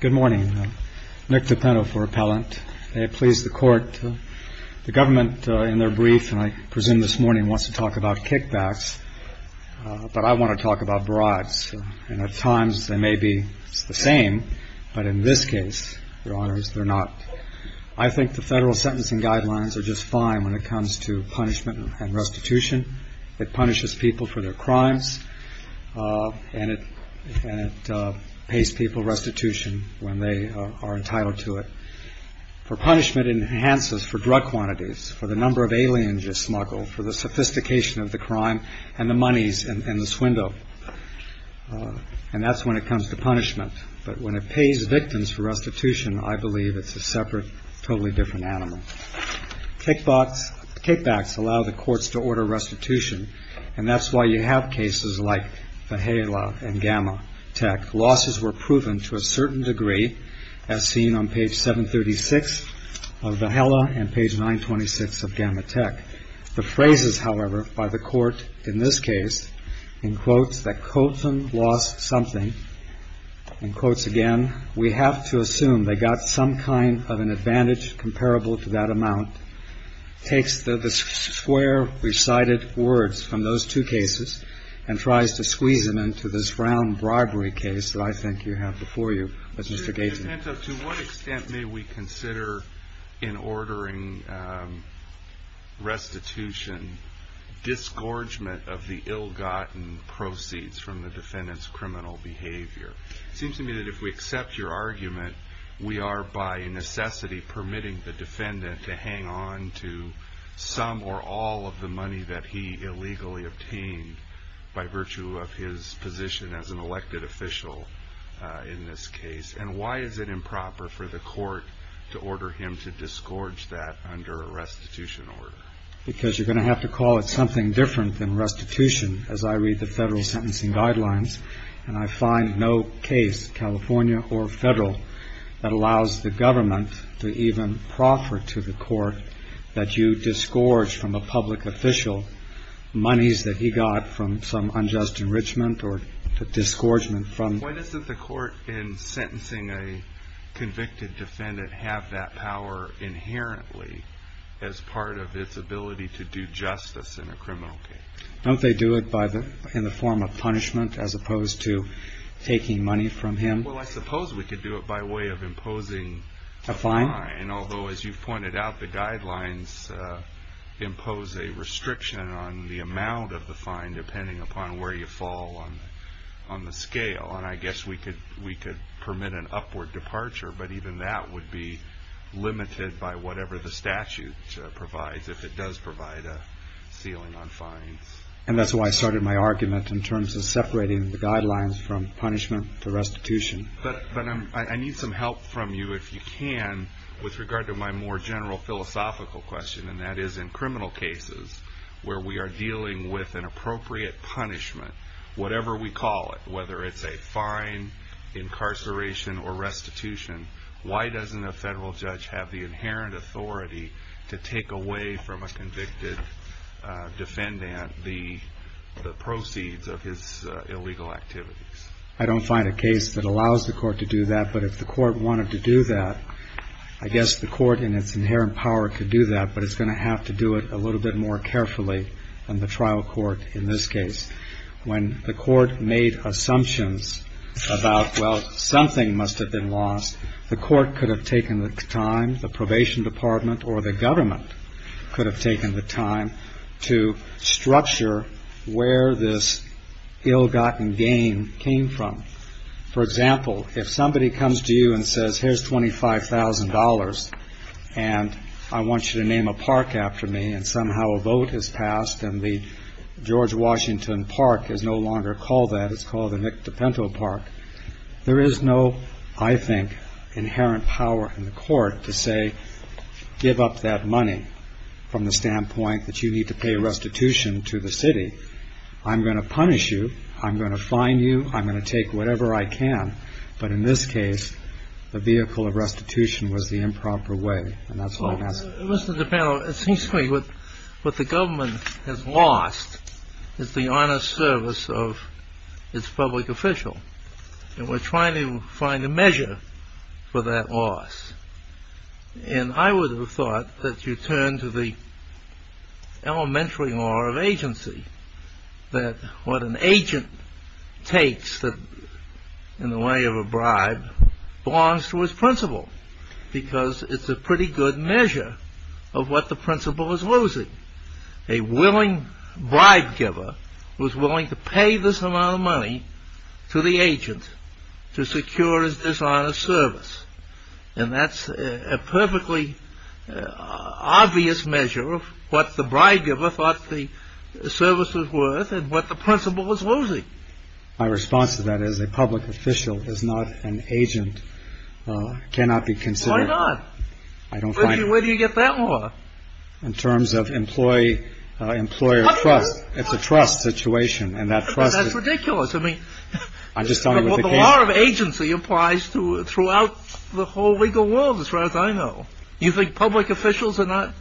Good morning. Nick DiPenno for Appellant. May it please the Court, the government in their brief, and I presume this morning, wants to talk about kickbacks, but I want to talk about bribes. And at times they may be the same, but in this case, Your Honors, they're not. I think the federal sentencing guidelines are just fine when it comes to punishment and restitution. It punishes people for their crimes, and it pays people restitution when they are entitled to it. For punishment, it enhances for drug quantities, for the number of aliens you smuggle, for the sophistication of the crime, and the monies in the swindle. And that's when it comes to punishment. But when it pays victims for restitution, I believe it's a separate, totally different animal. Kickbacks allow the courts to order restitution, and that's why you have cases like Vahela and Gamma Tech. Losses were proven to a certain degree, as seen on page 736 of Vahela and page 926 of Gamma Tech. The phrases, however, by the court in this case, in quotes, that Colton lost something, in quotes again, we have to assume they got some kind of an advantage comparable to that amount, takes the square recited words from those two cases and tries to squeeze them into this round bribery case that I think you have before you. To what extent may we consider in ordering restitution disgorgement of the ill-gotten proceeds from the defendant's criminal behavior? It seems to me that if we accept your argument, we are by necessity permitting the defendant to hang on to some or all of the money that he illegally obtained by virtue of his position as an elected official in this case. And why is it improper for the court to order him to disgorge that under a restitution order? Because you're going to have to call it something different than restitution, as I read the federal sentencing guidelines, and I find no case, California or federal, that allows the government to even proffer to the court that you disgorge from a public official monies that he got from some unjust enrichment or disgorgement from... Why doesn't the court in sentencing a convicted defendant have that power inherently as part of its ability to do justice in a criminal case? Don't they do it in the form of punishment as opposed to taking money from him? Well, I suppose we could do it by way of imposing... A fine? A fine, although as you've pointed out, the guidelines impose a restriction on the amount of the fine, depending upon where you fall on the scale, and I guess we could permit an upward departure, but even that would be limited by whatever the statute provides, if it does provide a ceiling on fines. And that's why I started my argument in terms of separating the guidelines from punishment to restitution. But I need some help from you, if you can, with regard to my more general philosophical question, and that is in criminal cases where we are dealing with an appropriate punishment, whatever we call it, whether it's a fine, incarceration, or restitution, why doesn't a federal judge have the inherent authority to take away from a convicted defendant the proceeds of his illegal activities? I don't find a case that allows the court to do that, but if the court wanted to do that, I guess the court in its inherent power could do that, but it's going to have to do it a little bit more carefully than the trial court in this case. When the court made assumptions about, well, something must have been lost, the court could have taken the time, the probation department or the government could have taken the time to structure where this ill-gotten gain came from. For example, if somebody comes to you and says, here's $25,000, and I want you to name a park after me, and somehow a vote is passed, and the George Washington Park is no longer called that, it's called the Nick DePento Park, there is no, I think, inherent power in the court to say, give up that money from the standpoint that you need to pay restitution to the city, I'm going to punish you, I'm going to fine you, I'm going to take whatever I can, but in this case, the vehicle of restitution was the improper way, and that's what it has to be. Mr. DePento, it seems to me what the government has lost is the honest service of its public official, and we're trying to find a measure for that loss. And I would have thought that you turn to the elementary law of agency, that what an agent takes in the way of a bribe belongs to its principal, because it's a pretty good measure of what the principal is losing. A willing bribe giver was willing to pay this amount of money to the agent to secure his dishonest service, and that's a perfectly obvious measure of what the bribe giver thought the service was worth and what the principal was losing. My response to that is a public official is not an agent, cannot be considered... Why not? I don't find... Where do you get that law? In terms of employee, employer trust, it's a trust situation, and that trust... That's ridiculous, I mean... I'm just talking about the case... Law of agency applies throughout the whole legal world, as far as I know. You think public officials are not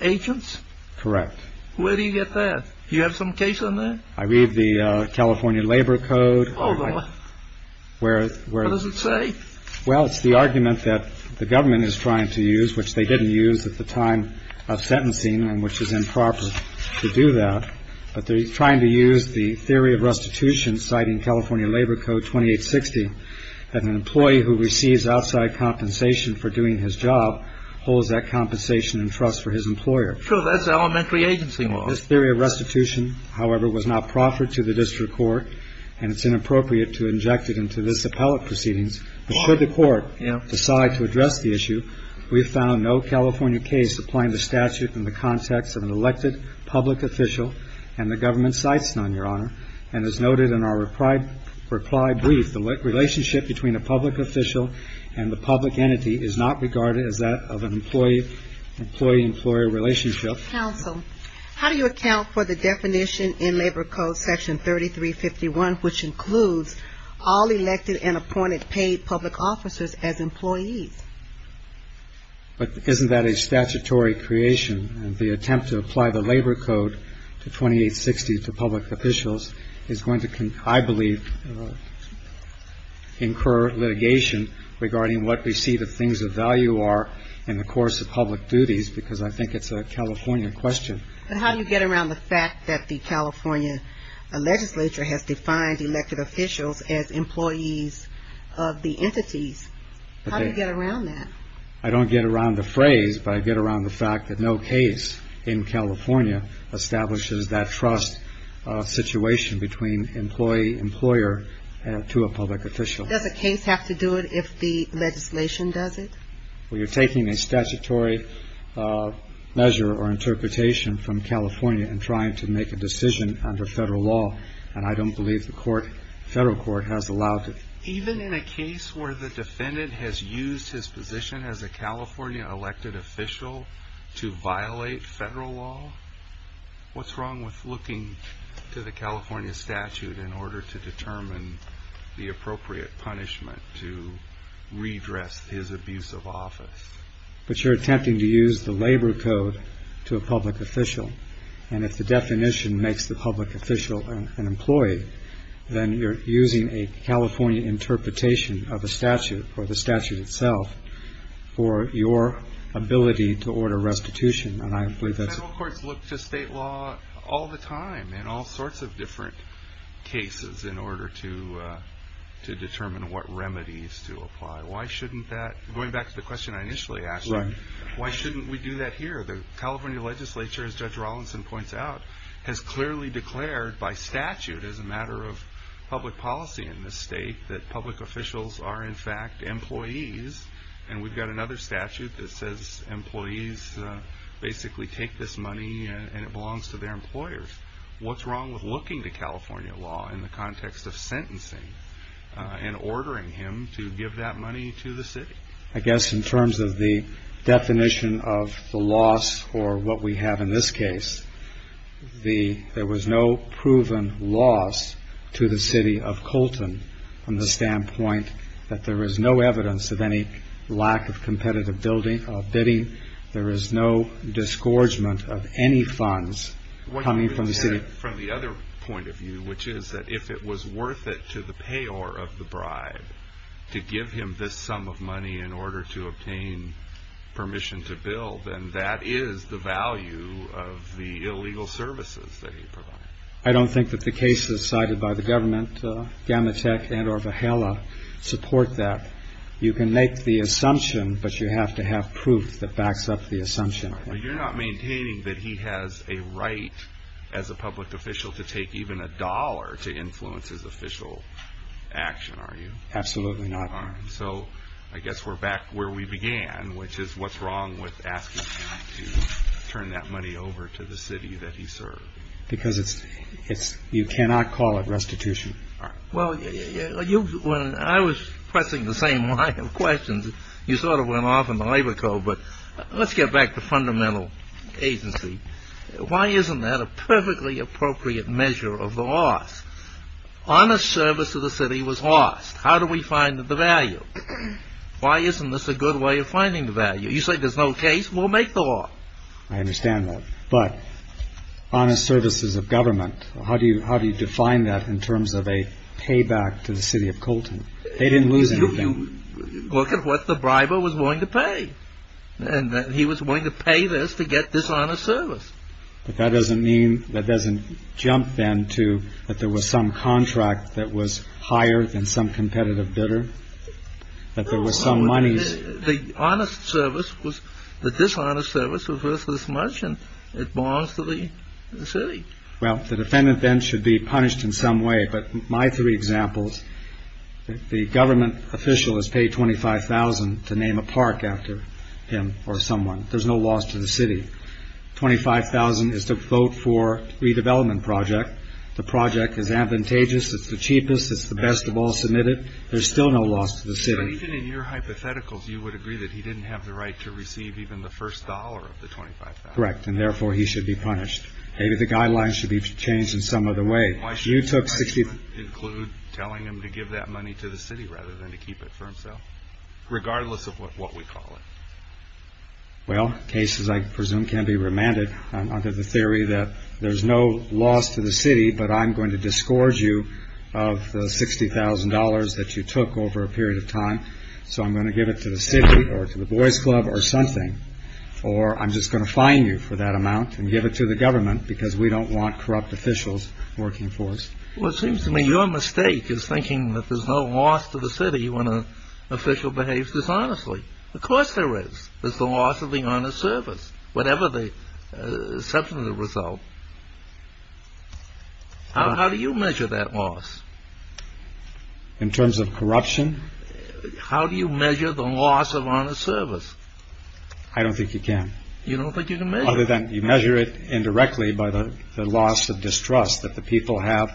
agents? Correct. Where do you get that? Do you have some case on that? I read the California Labor Code... Oh, the... What does it say? Well, it's the argument that the government is trying to use, which they didn't use at the time of sentencing and which is improper to do that, but they're trying to use the theory of restitution, citing California Labor Code 2860, that an employee who receives outside compensation for doing his job holds that compensation and trust for his employer. Sure, that's elementary agency law. This theory of restitution, however, was not proffered to the district court, and it's inappropriate to inject it into this appellate proceedings. But should the court decide to address the issue, we've found no California case applying the statute in the context of an elected public official, and the government cites none, Your Honor. And as noted in our reply brief, the relationship between a public official and the public entity is not regarded as that of an employee-employee relationship. Counsel, how do you account for the definition in Labor Code Section 3351, which includes all elected and appointed paid public officers as employees? But isn't that a statutory creation? The attempt to apply the Labor Code 2860 to public officials is going to, I believe, incur litigation regarding what we see the things of value are in the course of public duties because I think it's a California question. But how do you get around the fact that the California legislature has defined elected officials as employees of the entities? How do you get around that? I don't get around the phrase, but I get around the fact that no case in California establishes that trust situation between employee-employer to a public official. Does a case have to do it if the legislation does it? Well, you're taking a statutory measure or interpretation from California and trying to make a decision under federal law, and I don't believe the federal court has allowed it. Even in a case where the defendant has used his position as a California elected official to violate federal law, what's wrong with looking to the California statute in order to determine the appropriate punishment to redress his abuse of office? But you're attempting to use the Labor Code to a public official, and if the definition makes the public official an employee, then you're using a California interpretation of a statute or the statute itself for your ability to order restitution, and I believe that's... We use state law all the time in all sorts of different cases in order to determine what remedies to apply. Why shouldn't that... Going back to the question I initially asked you, why shouldn't we do that here? The California legislature, as Judge Rollinson points out, has clearly declared by statute as a matter of public policy in this state that public officials are in fact employees, and we've got another statute that says employees basically take this money and it belongs to their employers. What's wrong with looking to California law in the context of sentencing and ordering him to give that money to the city? I guess in terms of the definition of the loss or what we have in this case, there was no proven loss to the city of Colton from the standpoint that there is no evidence of any lack of competitive bidding. There is no disgorgement of any funds coming from the city. From the other point of view, which is that if it was worth it to the payor of the bribe to give him this sum of money in order to obtain permission to bill, then that is the value of the illegal services that he provided. I don't think that the cases cited by the government, Gamatek and or Vajela, support that. You can make the assumption, but you have to have proof that backs up the assumption. You're not maintaining that he has a right as a public official to take even a dollar to influence his official action, are you? Absolutely not. So I guess we're back where we began, which is what's wrong with asking him to turn that money over to the city that he served? Because you cannot call it restitution. Well, when I was pressing the same line of questions, you sort of went off in the labor code. But let's get back to fundamental agency. Why isn't that a perfectly appropriate measure of the loss? Honest service to the city was lost. How do we find the value? Why isn't this a good way of finding the value? You say there's no case. We'll make the law. I understand that. But honest services of government, how do you define that in terms of a payback to the city of Colton? They didn't lose anything. Look at what the briber was willing to pay. He was willing to pay this to get dishonest service. But that doesn't mean, that doesn't jump then to that there was some contract that was higher than some competitive bidder, that there was some money. The honest service was, the dishonest service was worth this much, and it belongs to the city. Well, the defendant then should be punished in some way. But my three examples, the government official has paid $25,000 to name a park after him or someone. There's no loss to the city. $25,000 is to vote for redevelopment project. The project is advantageous. It's the cheapest. It's the best of all submitted. There's still no loss to the city. But even in your hypotheticals, you would agree that he didn't have the right to receive even the first dollar of the $25,000. Correct, and therefore he should be punished. Maybe the guidelines should be changed in some other way. Why should I even include telling him to give that money to the city rather than to keep it for himself, regardless of what we call it? Well, cases I presume can be remanded under the theory that there's no loss to the city, but I'm going to disgorge you of the $60,000 that you took over a period of time. So I'm going to give it to the city or to the boys club or something, or I'm just going to fine you for that amount and give it to the government because we don't want corrupt officials working for us. Well, it seems to me your mistake is thinking that there's no loss to the city when an official behaves dishonestly. Of course there is. There's the loss of the honest service, whatever the substantive result. How do you measure that loss? In terms of corruption? How do you measure the loss of honest service? I don't think you can. You don't think you can measure it? Other than you measure it indirectly by the loss of distrust that the people have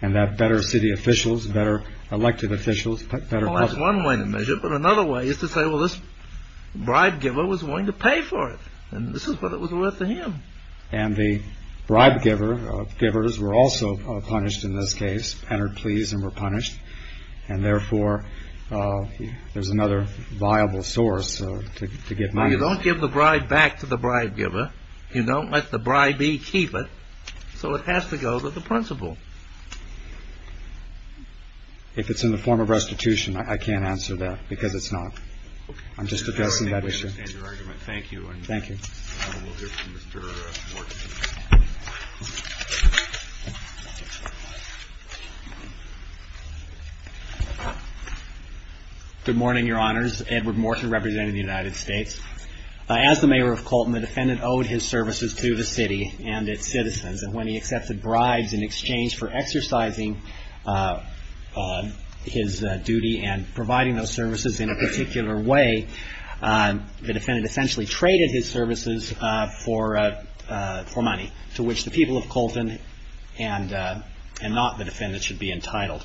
and that better city officials, better elected officials. Well, that's one way to measure it. But another way is to say, well, this bribe giver was willing to pay for it, and this is what it was worth to him. And the bribe givers were also punished in this case, entered pleas and were punished. And, therefore, there's another viable source to get money. Well, you don't give the bribe back to the bribe giver. You don't let the bribee keep it. So it has to go to the principal. If it's in the form of restitution, I can't answer that because it's not. I'm just addressing that issue. I understand your argument. Thank you. Thank you. We'll hear from Mr. Morton. Good morning, Your Honors. Edward Morton representing the United States. As the mayor of Colton, the defendant owed his services to the city and its citizens. And when he accepted bribes in exchange for exercising his duty and providing those services in a particular way, the defendant essentially traded his services for money, to which the people of Colton and not the defendant should be entitled.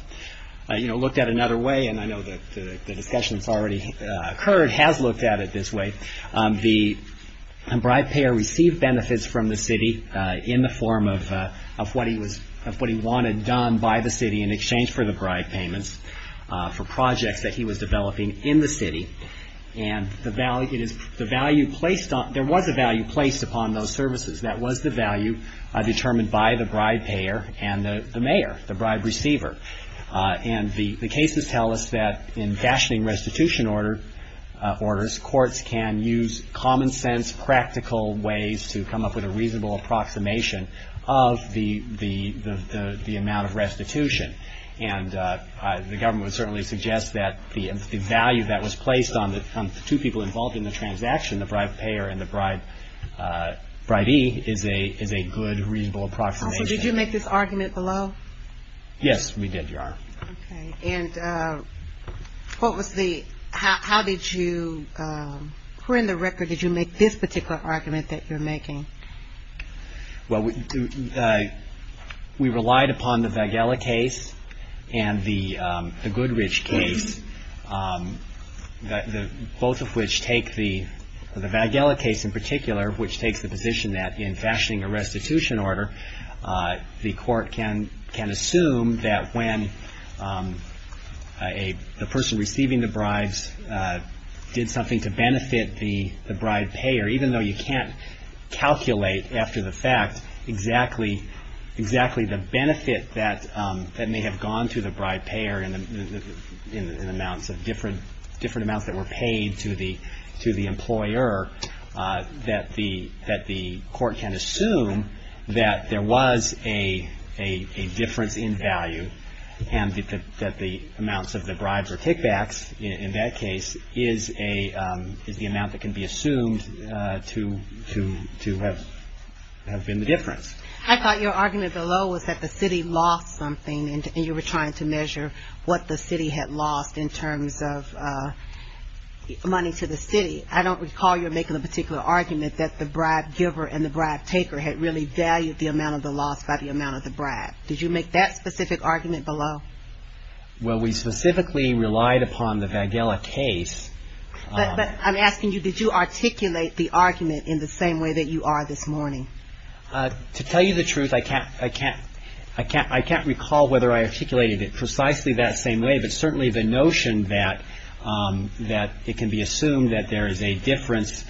You know, looked at another way, and I know that the discussion that's already occurred has looked at it this way. The bribe payer received benefits from the city in the form of what he wanted done by the city in exchange for the bribe payments for projects that he was developing in the city. And there was a value placed upon those services. That was the value determined by the bribe payer and the mayor, the bribe receiver. And the cases tell us that in fashioning restitution orders, courts can use common sense, practical ways to come up with a reasonable approximation of the amount of restitution. And the government would certainly suggest that the value that was placed on the two people involved in the transaction, the bribe payer and the bribee, is a good reasonable approximation. Did you make this argument below? Yes, we did, Your Honor. Okay. And what was the – how did you – who in the record did you make this particular argument that you're making? Well, we relied upon the Vaghella case and the Goodrich case, both of which take the – the Vaghella case in particular, which takes the position that in fashioning a restitution order, the court can assume that when the person receiving the bribes did something to benefit the bribe payer, even though you can't calculate after the fact exactly the benefit that may have gone to the bribe payer in amounts of different – different amounts that were paid to the employer, that the court can assume that there was a difference in value and that the amounts of the bribes or kickbacks in that case is a – is the amount that can be assumed to have been the difference. I thought your argument below was that the city lost something and you were trying to measure what the city had lost in terms of money to the city. I don't recall you making a particular argument that the bribe giver and the bribe taker had really valued the amount of the loss by the amount of the bribe. Did you make that specific argument below? Well, we specifically relied upon the Vaghella case. But I'm asking you, did you articulate the argument in the same way that you are this morning? To tell you the truth, I can't – I can't – I can't recall whether I articulated it precisely that same way, but certainly the notion that it can be assumed that there is a difference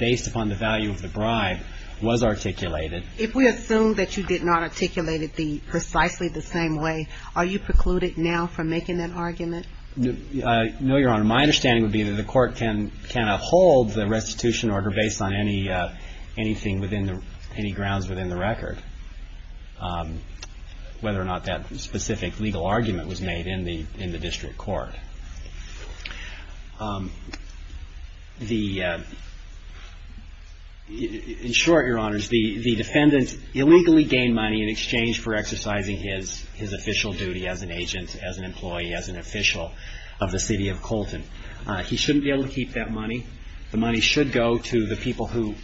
based upon the value of the bribe was articulated. If we assume that you did not articulate it precisely the same way, are you precluded now from making that argument? No, Your Honor. My understanding would be that the court can hold the restitution order based on anything within the – any grounds within the record, whether or not that specific legal argument was made in the – in the district court. The – in short, Your Honors, the defendant illegally gained money in exchange for exercising his official duty as an agent, as an employee, as an official of the city of Colton. He shouldn't be able to keep that money. The money should go to the people who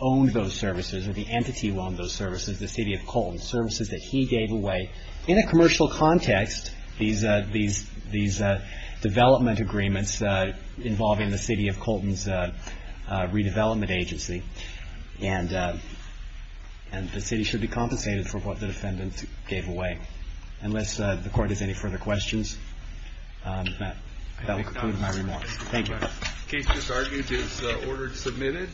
owned those services or the entity who owned those services, the city of Colton, services that he gave away. In a commercial context, these – these – these development agreements involving the city of Colton's redevelopment agency and the city should be compensated for what the defendant gave away. Unless the court has any further questions, that will conclude my remarks. Thank you. The case just argued is ordered submitted.